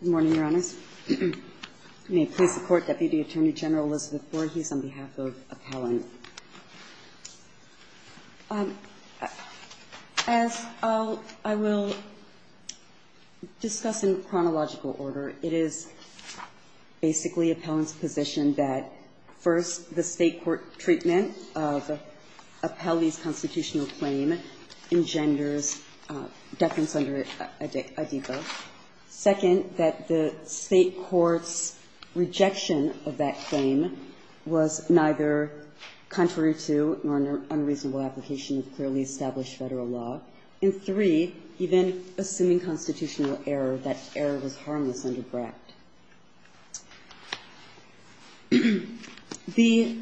Good morning, Your Honors. May it please the Court, Deputy Attorney General Elizabeth Voorhees on behalf of Appellant. As I will discuss in chronological order, it is basically Appellant's position that first, the state court treatment of Appellee's constitutional claim engenders defense under ADECA. Second, that the state court's rejection of that claim was neither contrary to nor an unreasonable application of clearly established federal law. And three, he then, assuming constitutional error, that error was harmless under BRACT. The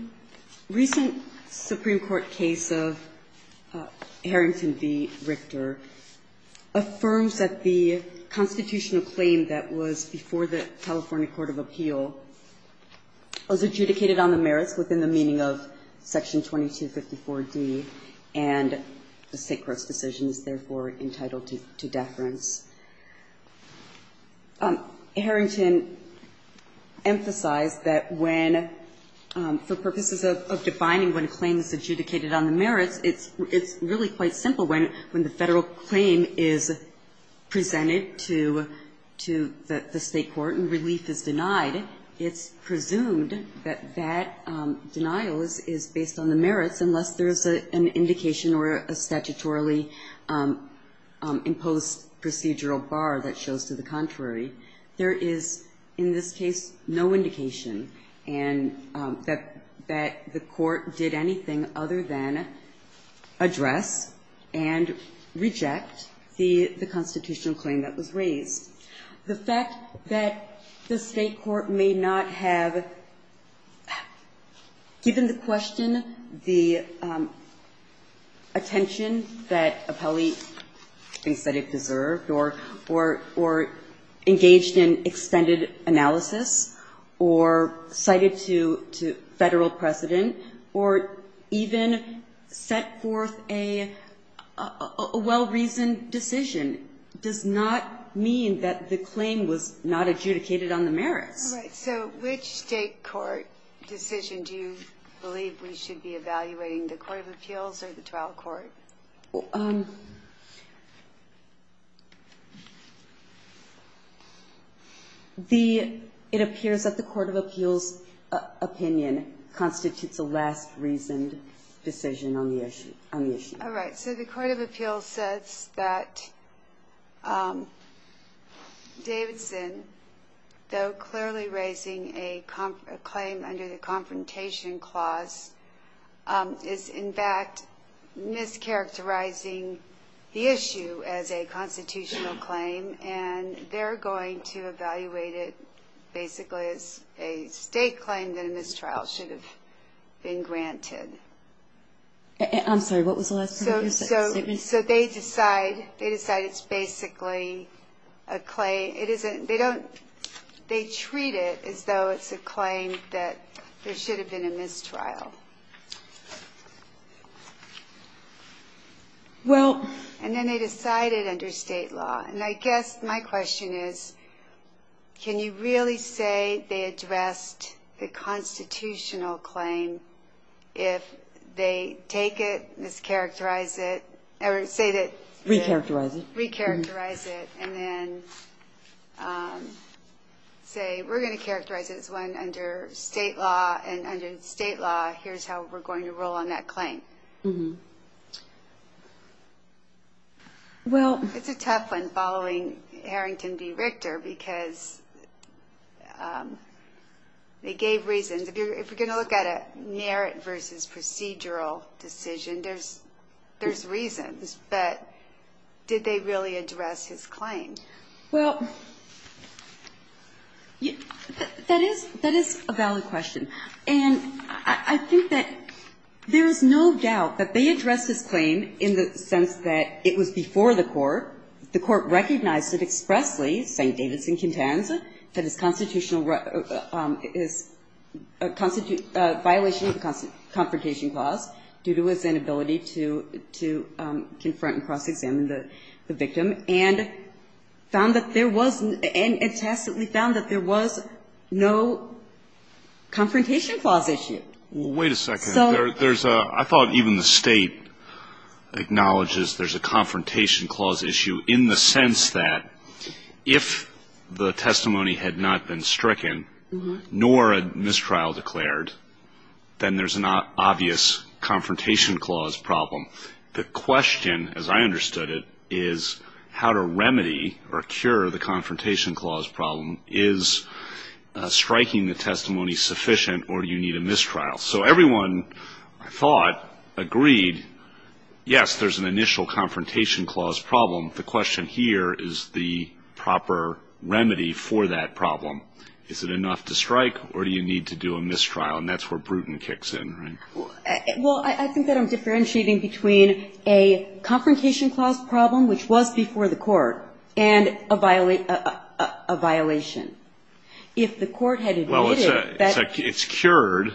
recent Supreme Court case of Harrington v. Richter affirms that the constitutional claim that was before the California Court of Appeal was adjudicated on the merits within the meaning of Section 2254d, and the state court's decision is therefore entitled to deference. Harrington emphasized that when, for purposes of defining when a claim is adjudicated on the merits, it's really quite simple. When the federal claim is presented to the state court and relief is denied, it's presumed that that denial is based on the merits unless there is an indication or a statutorily imposed procedural bar that shows to the contrary. There is, in this case, no indication that the court did anything other than address The fact that the state court may not have given the question the attention that appellee thinks that it deserved or engaged in extended analysis or cited to federal precedent or even set forth a well-reasoned decision does not mean that the state claim was not adjudicated on the merits. All right, so which state court decision do you believe we should be evaluating, the Court of Appeals or the trial court? It appears that the Court of Appeals' opinion constitutes a last-reasoned decision on the issue. All right, so the Court of Appeals says that Davidson, though clearly raising a claim under the Confrontation Clause, is in fact mischaracterizing the issue as a constitutional claim, and they're going to evaluate it basically as a state claim that a mistrial should have been granted. I'm sorry, what was the last part of your sentence? So they decide it's basically a claim. They treat it as though it's a claim that there should have been a mistrial. And then they decide it under state law, and I guess my question is, can you really say they addressed the constitutional claim if they take it, mischaracterize it, or say that they re-characterize it, and then say, we're going to characterize it as one under state law, and under state law, here's how we're going to roll on that claim? Well, it's a tough one, following Harrington v. Richter, because they gave reasons. If you're going to look at a merit versus procedural decision, there's reasons. But did they really address his claim? Well, that is a valid question. And I think that there's no doubt that they addressed his claim in the sense that it was before the court. The court recognized it expressly, St. Davidson contends, that it's constitutional violation of the Confrontation Clause due to his inability to confront and cross-examine the victim, and found that there was, and tacitly found that there was no confrontation clause issue. Well, wait a second. I thought even the State acknowledges there's a Confrontation Clause issue in the sense that if the testimony had not been stricken, nor a mistrial declared, then there's an obvious Confrontation Clause problem. The question, as I understood it, is how to remedy or cure the Confrontation Clause problem. Is striking the testimony sufficient, or do you need a mistrial? So everyone, I thought, agreed, yes, there's an initial Confrontation Clause problem. The question here is the proper remedy for that problem. Is it enough to strike, or do you need to do a mistrial? And that's where Bruton kicks in, right? Well, I think that I'm differentiating between a Confrontation Clause problem, which was before the court, and a violation. If the court had admitted that ---- Well, it's cured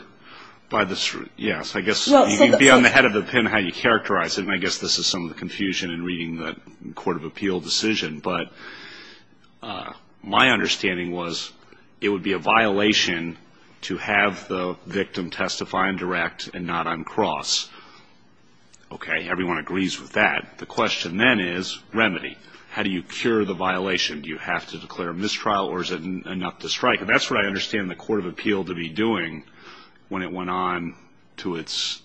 by the, yes. I guess you can be on the head of the pin how you characterize it, and I guess this is some of the confusion in reading the Court of Appeal decision. But my understanding was it would be a violation to have the victim testify indirect and not on cross. Okay, everyone agrees with that. The question then is remedy. How do you cure the violation? Do you have to declare mistrial, or is it enough to strike? And that's what I understand the Court of Appeal to be doing when it went on to its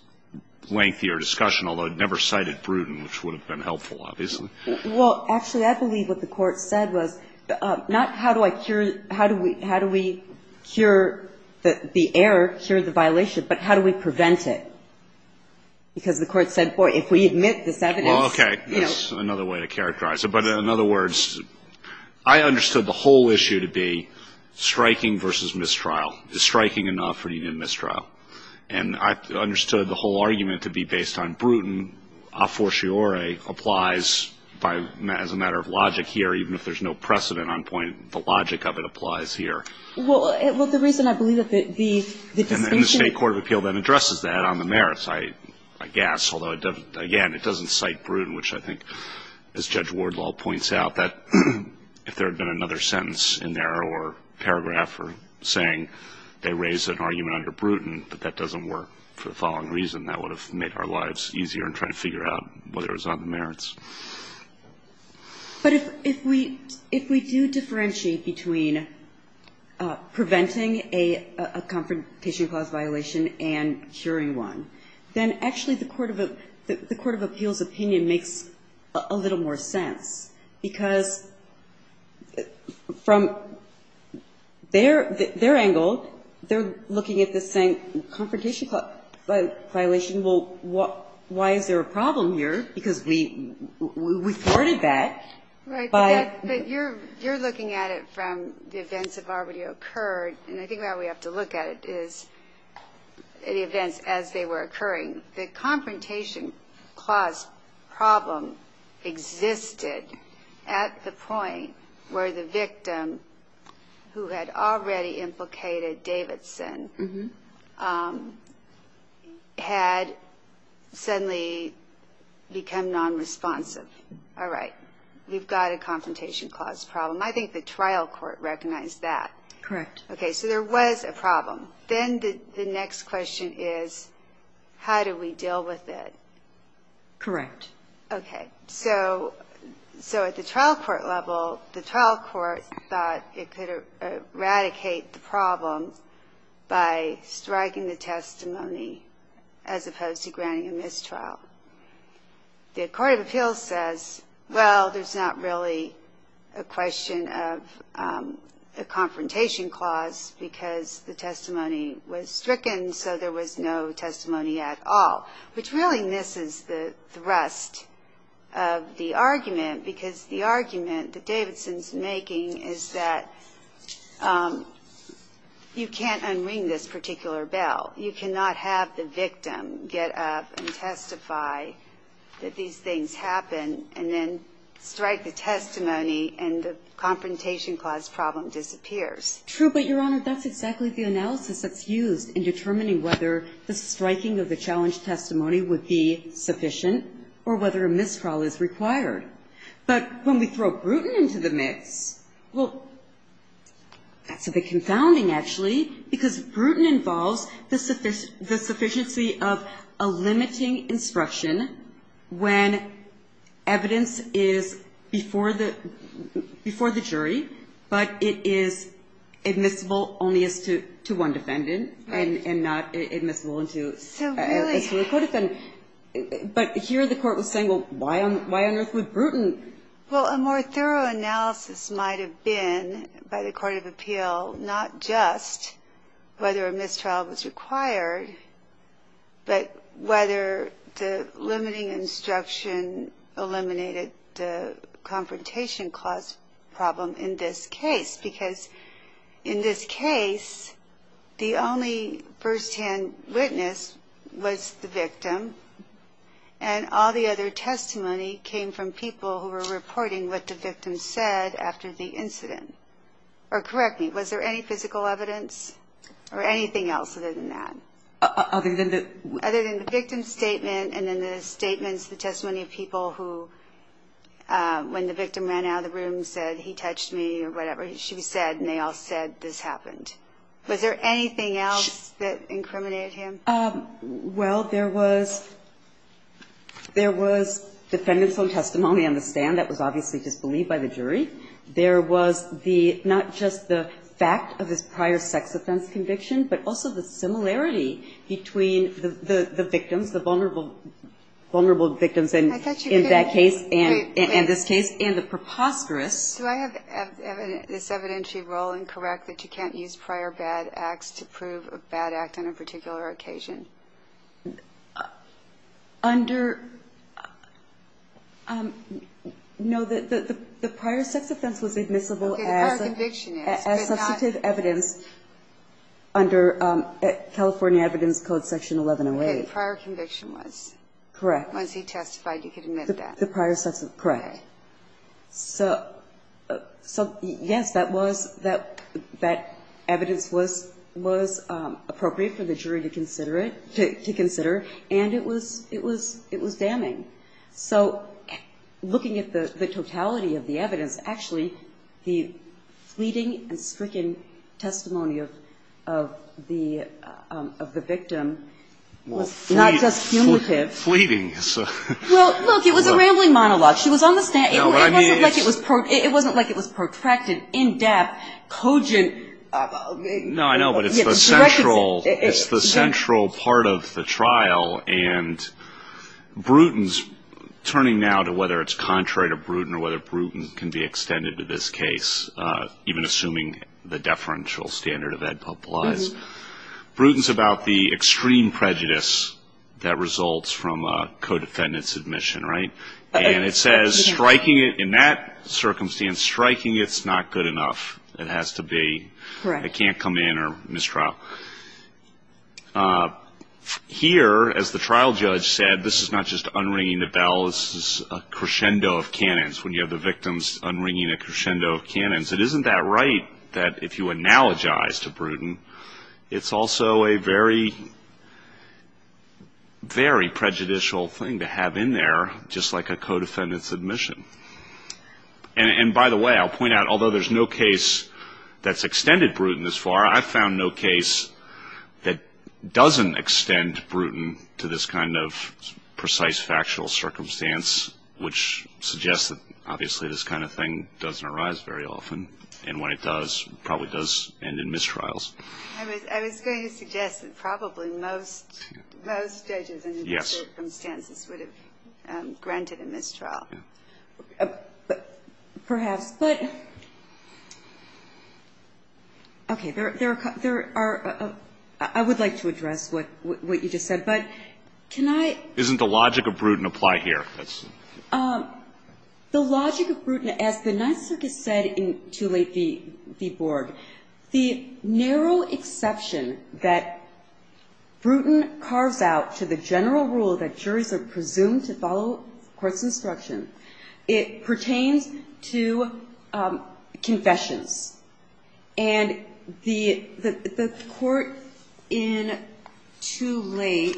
lengthier discussion, although it never cited Bruton, which would have been helpful, obviously. Well, actually, I believe what the Court said was not how do I cure, how do we cure the error, cure the violation, but how do we prevent it? Because the Court said, boy, if we admit this evidence ---- Well, okay, that's another way to characterize it. But in other words, I understood the whole issue to be striking versus mistrial. Is striking enough or do you need a mistrial? And I understood the whole argument to be based on Bruton. A fortiori applies by, as a matter of logic here, even if there's no precedent on point, the logic of it applies here. Well, the reason I believe that the ---- The State Court of Appeal then addresses that on the merits, I guess, although, again, it doesn't cite Bruton, which I think, as Judge Wardlaw points out, that if there had been another sentence in there or paragraph saying they raised an argument under Bruton, but that doesn't work for the following reason, that would have made our lives easier in trying to figure out whether it was on the merits. But if we do differentiate between preventing a confrontation clause violation and curing one, then actually the court of appeals' opinion makes a little more sense, because from their angle, they're looking at this saying confrontation clause violation, well, why is there a problem here? Because we thwarted that by ---- Right. But you're looking at it from the events that have already occurred, and I think why we have to look at it is the events as they were occurring. The confrontation clause problem existed at the point where the victim who had already implicated Davidson had suddenly become nonresponsive. All right. We've got a confrontation clause problem. I think the trial court recognized that. Correct. Okay. So there was a problem. Then the next question is how do we deal with it? Correct. Okay. So at the trial court level, the trial court thought it could eradicate the problem by striking the testimony as opposed to granting a mistrial. The court of appeals says, well, there's not really a question of a confrontation clause because the testimony was stricken, so there was no testimony at all, which really misses the thrust of the argument because the argument that Davidson's making is that you can't unring this particular bell. You cannot have the victim get up and testify that these things happened and then strike the testimony and the confrontation clause problem disappears. True, but, Your Honor, that's exactly the analysis that's used in determining whether the striking of the challenge testimony would be sufficient or whether a mistrial is required. But when we throw Bruton into the mix, well, that's a bit confounding, actually, because Bruton involves the sufficiency of a limiting instruction when evidence is before the jury but it is admissible only as to one defendant and not admissible as to a recorded defendant. But here the court was saying, well, why on earth would Bruton? Well, a more thorough analysis might have been by the court of appeal not just whether a mistrial was required but whether the limiting instruction eliminated the confrontation clause problem in this case because in this case the only firsthand witness was the victim and all the other testimony came from people who were reporting what the victim said after the incident. Or correct me, was there any physical evidence or anything else other than that? Other than the victim's statement and then the statements, the testimony of people who, when the victim ran out of the room and said he touched me or whatever she said and they all said this happened. Was there anything else that incriminated him? Well, there was defendant's own testimony on the stand. That was obviously disbelieved by the jury. There was the, not just the fact of his prior sex offense conviction, but also the similarity between the victims, the vulnerable victims in that case and this case, and the preposterous. Do I have this evidentiary role incorrect that you can't use prior bad acts to prove a bad act on a particular occasion? Under, no, the prior sex offense was admissible as substantive evidence. Under California Evidence Code Section 1108. Okay, the prior conviction was. Correct. Once he testified, you could admit that. The prior sex, correct. Okay. So, yes, that was, that evidence was appropriate for the jury to consider it, to consider, and it was damning. So, looking at the totality of the evidence, actually, the fleeting and stricken testimony of the victim was not just cumulative. Fleeting. Well, look, it was a rambling monologue. She was on the stand. It wasn't like it was protracted, in-depth, cogent. No, I know, but it's the central part of the trial. And Bruton's turning now to whether it's contrary to Bruton or whether Bruton can be extended to this case, even assuming the deferential standard of Ed Pope was. Bruton's about the extreme prejudice that results from a co-defendant's admission, right? And it says striking it, in that circumstance, striking it's not good enough. It has to be. Correct. It can't come in or mistrial. Here, as the trial judge said, this is not just unringing the bell. This is a crescendo of cannons, when you have the victims unringing a crescendo of cannons. It isn't that right that if you analogize to Bruton, it's also a very, very prejudicial thing to have in there, just like a co-defendant's admission. And, by the way, I'll point out, although there's no case that's extended Bruton this far, I've found no case that doesn't extend Bruton to this kind of precise factual circumstance, which suggests that, obviously, this kind of thing doesn't arise very often, and when it does, it probably does end in mistrials. I was going to suggest that probably most judges in those circumstances would have granted a mistrial. Perhaps. But, okay, there are – I would like to address what you just said, but can I – Isn't the logic of Bruton apply here? The logic of Bruton, as the Ninth Circuit said in too late the board, the narrow exception that Bruton carves out to the general rule that juries are presumed to follow court's instruction, it pertains to confessions. And the court in too late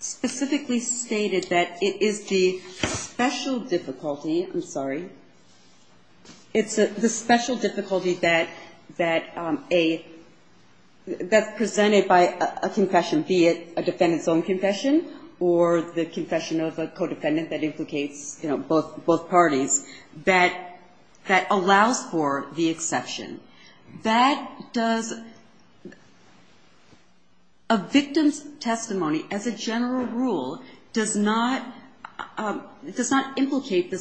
specifically stated that it is the special difficulty – I'm sorry – it's the special difficulty that a – that's presented by a confession, be it a defendant's own confession or the confession of a co-defendant that implicates, you know, both parties, that allows for the exception. That does – a victim's testimony as a general rule does not – does not implicate the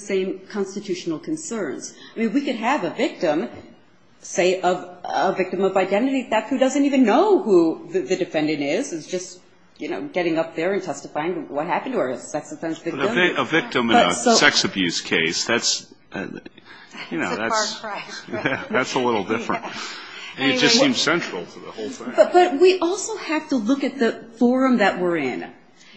same constitutional concerns. I mean, we could have a victim, say, a victim of identity theft, who doesn't even know who the defendant is, is just, you know, getting up there and testifying to what happened to her. A victim in a sex abuse case, that's – you know, that's a little different. It just seems central to the whole thing. But we also have to look at the forum that we're in.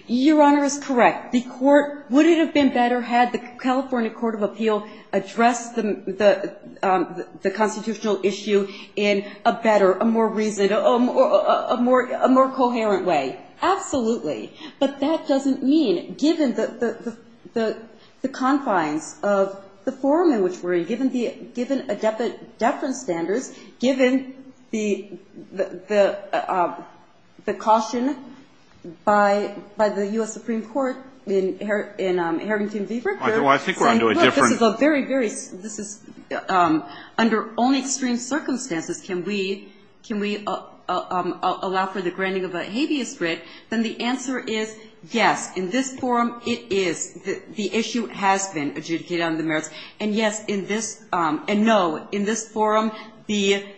Your Honor is correct. The court – would it have been better had the California Court of Appeal addressed the constitutional issue in a better, a more reason – a more coherent way? Absolutely. But that doesn't mean, given the confines of the forum in which we're in, given the – given the deference standards, given the caution by the U.S. Supreme Court, in Harrington v. Bruton, saying, look, this is a very, very – this is – under only extreme circumstances can we – can we allow for the granting of a habeas writ, then the answer is, yes, in this forum it is. The issue has been adjudicated under the merits. And, yes, in this – and, no, in this forum, the –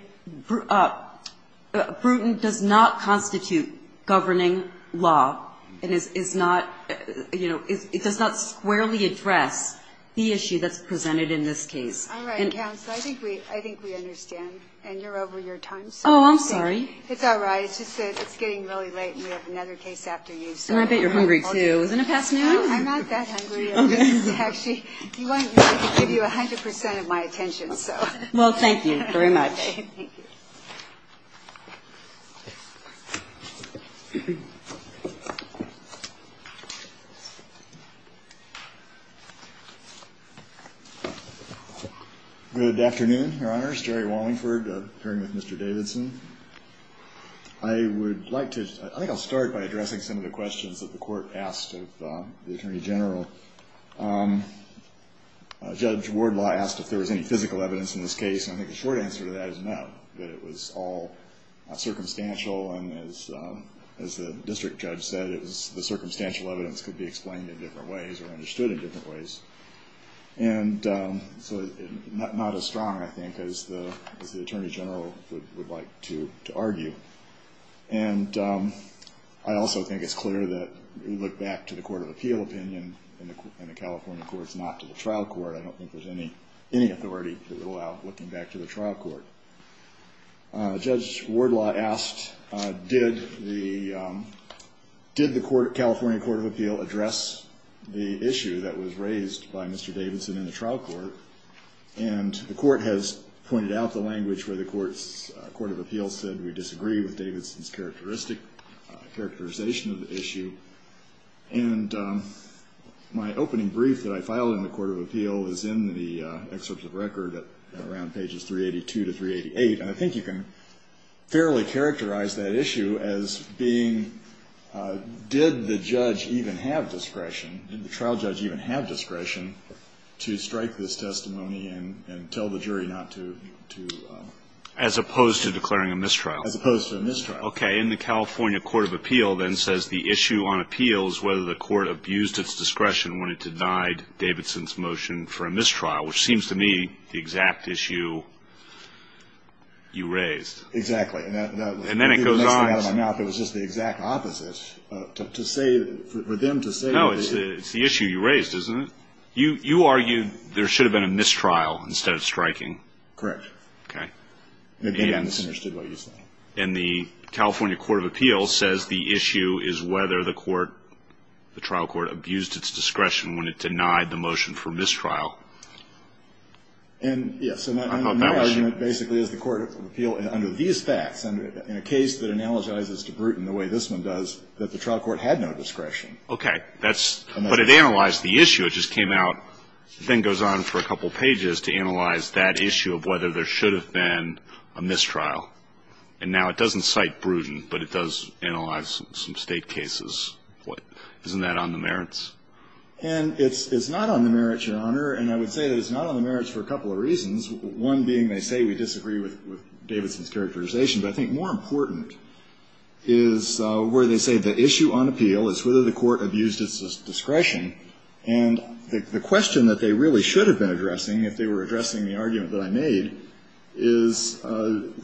Bruton does not constitute governing law. And it's not – you know, it does not squarely address the issue that's presented in this case. All right, counsel. I think we – I think we understand. And you're over your time. Oh, I'm sorry. It's all right. It's just that it's getting really late, and we have another case after you. And I bet you're hungry, too. Isn't it past noon? I'm not that hungry. I'm just actually – you want me to give you 100 percent of my attention, so. Well, thank you very much. Thank you. Good afternoon, Your Honors. Jerry Wallingford, appearing with Mr. Davidson. I would like to – I think I'll start by addressing some of the questions that the Court asked of the Attorney General. Judge Wardlaw asked if there was any physical evidence in this case. And I think the short answer to that is no, that it was all circumstantial. And as the district judge said, it was – the circumstantial evidence could be explained in different ways or understood in different ways. And so not as strong, I think, as the Attorney General would like to argue. And I also think it's clear that we look back to the Court of Appeal opinion in the California courts, not to the trial court. I don't think there's any authority that would allow looking back to the trial court. Judge Wardlaw asked did the California Court of Appeal address the issue that was raised by Mr. Davidson in the trial court. And the Court has pointed out the language where the Court of Appeal said we disagree with Davidson's characterization of the issue. And my opening brief that I filed in the Court of Appeal is in the excerpts of record around pages 382 to 388. And I think you can fairly characterize that issue as being did the judge even have discretion, did the trial judge even have discretion to strike this testimony and tell the jury not to? As opposed to declaring a mistrial. As opposed to a mistrial. Okay. And the California Court of Appeal then says the issue on appeal is whether the Court abused its discretion and wanted to deny Davidson's motion for a mistrial, which seems to me the exact issue you raised. And then it goes on. I threw the next thing out of my mouth. It was just the exact opposite. To say, for them to say. No, it's the issue you raised, isn't it? You argued there should have been a mistrial instead of striking. Correct. Okay. Maybe I misunderstood what you said. And the California Court of Appeal says the issue is whether the court, the trial court abused its discretion when it denied the motion for mistrial. And, yes. So my argument basically is the Court of Appeal under these facts, in a case that analogizes to Bruton the way this one does, that the trial court had no discretion. Okay. But it analyzed the issue. It just came out, then goes on for a couple pages to analyze that issue of whether there should have been a mistrial. And now it doesn't cite Bruton, but it does analyze some State cases. Isn't that on the merits? And it's not on the merits, Your Honor. And I would say that it's not on the merits for a couple of reasons, one being they say we disagree with Davidson's characterization. But I think more important is where they say the issue on appeal is whether the court abused its discretion. And the question that they really should have been addressing, if they were addressing the argument that I made, is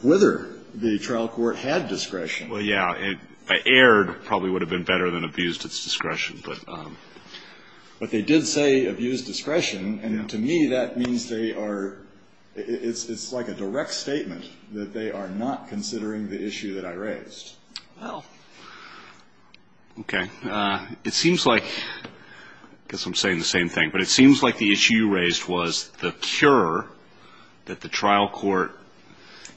whether the trial court had discretion. Well, yeah. If I erred, it probably would have been better than abused its discretion. But they did say abused discretion. And to me, that means they are, it's like a direct statement that they are not considering the issue that I raised. Well, okay. It seems like, I guess I'm saying the same thing, but it seems like the issue you raised was the cure that the trial court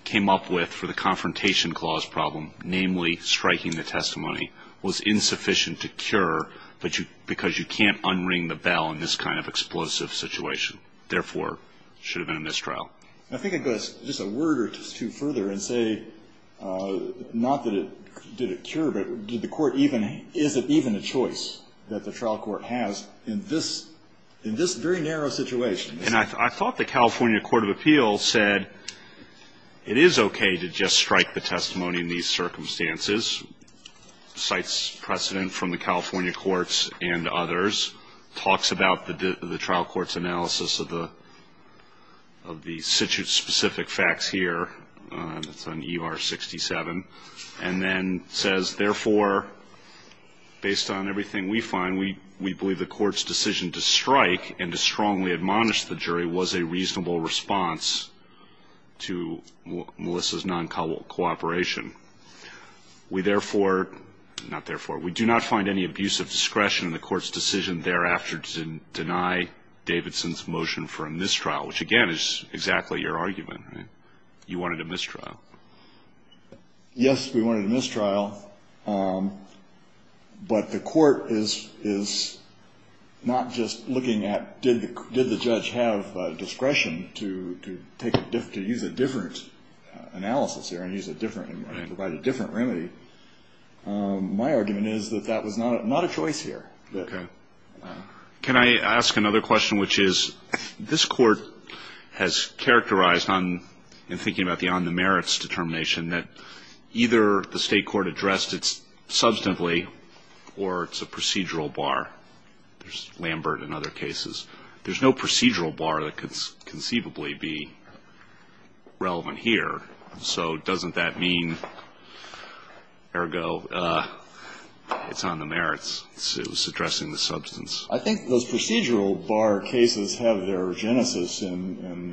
came up with for the confrontation clause problem, namely striking the testimony, was insufficient to cure because you can't unring the bell in this kind of explosive situation. Therefore, it should have been a mistrial. I think I'd go just a word or two further and say not that it did a cure, but did the court even, is it even a choice that the trial court has in this very narrow situation? And I thought the California Court of Appeals said it is okay to just strike the testimony in these circumstances. Cites precedent from the California courts and others. Talks about the trial court's analysis of the, of the specific facts here. It's on ER 67. And then says, therefore, based on everything we find, we believe the court's decision to strike and to strongly admonish the jury was a reasonable response to Melissa's non-cooperation. We therefore, not therefore, we do not find any abuse of discretion in the court's decision thereafter to deny Davidson's motion for a mistrial, which, again, is exactly your argument, right? You wanted a mistrial. Yes, we wanted a mistrial. But the court is not just looking at did the judge have discretion to take, to use a different analysis here and use a different, provide a different remedy. My argument is that that was not a choice here. Okay. Can I ask another question, which is, this Court has characterized on, in thinking about the on the merits determination, that either the State court addressed it substantively or it's a procedural bar. There's Lambert and other cases. There's no procedural bar that could conceivably be relevant here. So doesn't that mean, ergo, it's on the merits. It was addressing the substance. I think those procedural bar cases have their genesis in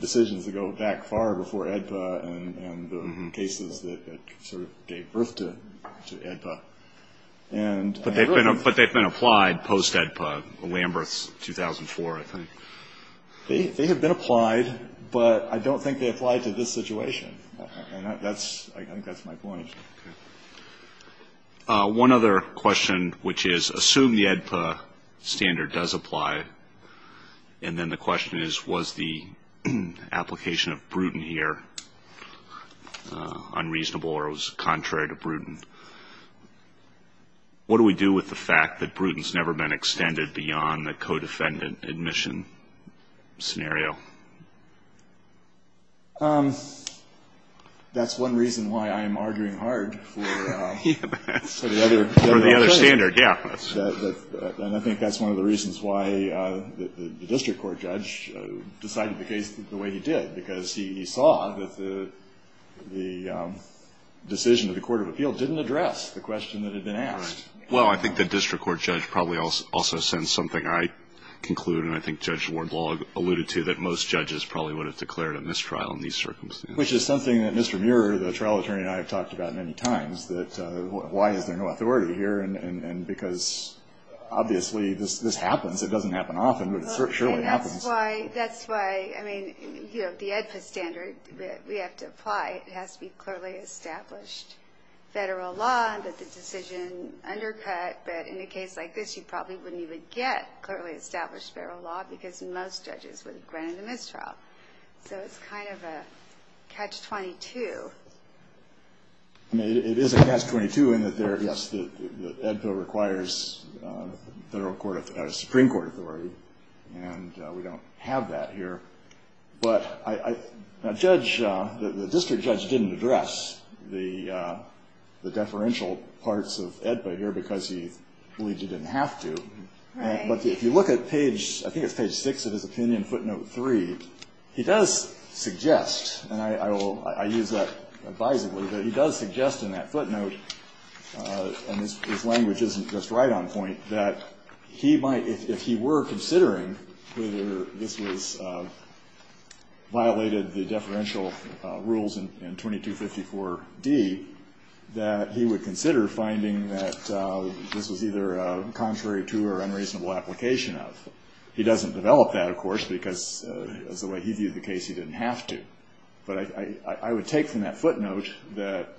decisions that go back far before AEDPA and the cases that sort of gave birth to AEDPA. But they've been applied post-AEDPA, Lambert's 2004, I think. They have been applied, but I don't think they applied to this situation. And that's, I think that's my point. Okay. One other question, which is, assume the AEDPA standard does apply, and then the question is, was the application of Bruton here unreasonable or was contrary to Bruton? What do we do with the fact that Bruton's never been extended beyond the co-defendant admission scenario? That's one reason why I'm arguing hard for the other standard. For the other standard, yeah. And I think that's one of the reasons why the district court judge decided the case the way he did, because he saw that the decision of the court of appeal didn't address the question that had been asked. Well, I think the district court judge probably also sensed something I conclude and I think Judge Wardlog alluded to, that most judges probably would have declared a mistrial in these circumstances. Which is something that Mr. Muir, the trial attorney, and I have talked about many times, that why is there no authority here? And because, obviously, this happens. It doesn't happen often, but it surely happens. That's why, I mean, you know, the AEDPA standard, we have to apply it. It has to be clearly established federal law that the decision undercut. But in a case like this, you probably wouldn't even get clearly established federal law, because most judges would have granted a mistrial. So it's kind of a catch-22. I mean, it is a catch-22 in that there, yes, the AEDPA requires federal court authority, Supreme Court authority. And we don't have that here. But the district judge didn't address the deferential parts of AEDPA here because he believed he didn't have to. But if you look at page, I think it's page 6 of his opinion, footnote 3, he does suggest, and I will, I use that advisingly, but he does suggest in that footnote, and his language isn't just right on point, that he might, if he were considering whether this was, violated the deferential rules in 2254d, that he would consider finding that this was either contrary to or unreasonable application of. He doesn't develop that, of course, because as the way he viewed the case, he didn't have to. But I would take from that footnote that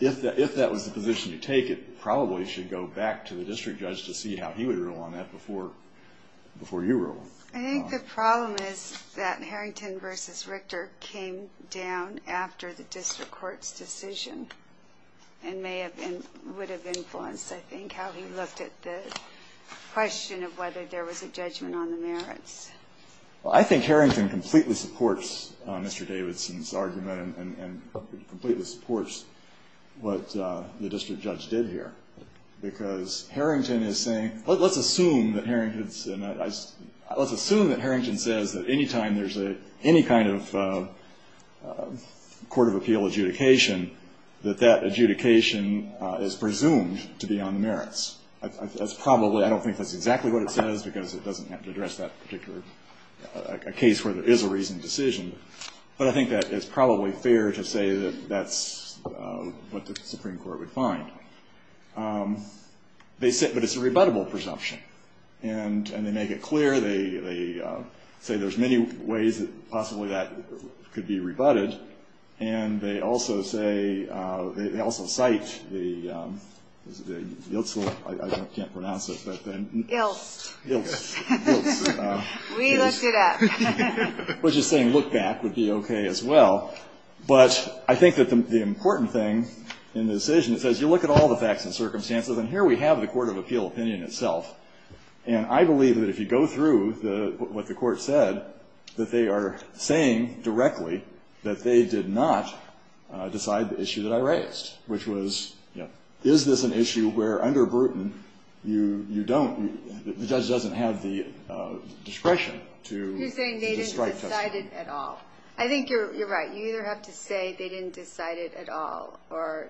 if that was the position to take, it probably should go back to the district judge to see how he would rule on that before you rule. I think the problem is that Harrington v. Richter came down after the district judge's decision and may have been, would have influenced, I think, how he looked at the question of whether there was a judgment on the merits. Well, I think Harrington completely supports Mr. Davidson's argument and completely supports what the district judge did here. Because Harrington is saying, let's assume that Harrington's, let's assume that there's a reasonable adjudication, that that adjudication is presumed to be on the merits. That's probably, I don't think that's exactly what it says because it doesn't have to address that particular, a case where there is a reasoned decision. But I think that it's probably fair to say that that's what the Supreme Court would find. They said, but it's a rebuttable presumption. And they make it clear, they say there's many ways that possibly that could be done. They also say, they also cite the, I can't pronounce it, but the Ilse. Ilse. We looked it up. Which is saying look back would be okay as well. But I think that the important thing in the decision says, you look at all the facts and circumstances, and here we have the court of appeal opinion itself. And I believe that if you go through what the court said, that they are saying directly that they did not decide the issue that I raised. Which was, is this an issue where under Bruton you don't, the judge doesn't have the discretion to describe testimony. You're saying they didn't decide it at all. I think you're right. You either have to say they didn't decide it at all, or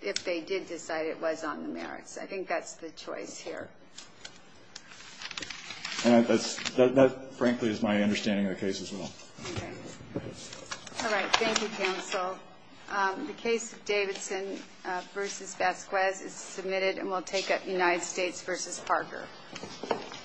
if they did decide it was on the merits. I think that's the choice here. And that's, that frankly is my understanding of the case as well. Okay. All right. Thank you, counsel. The case of Davidson versus Vasquez is submitted, and we'll take up United States versus Parker.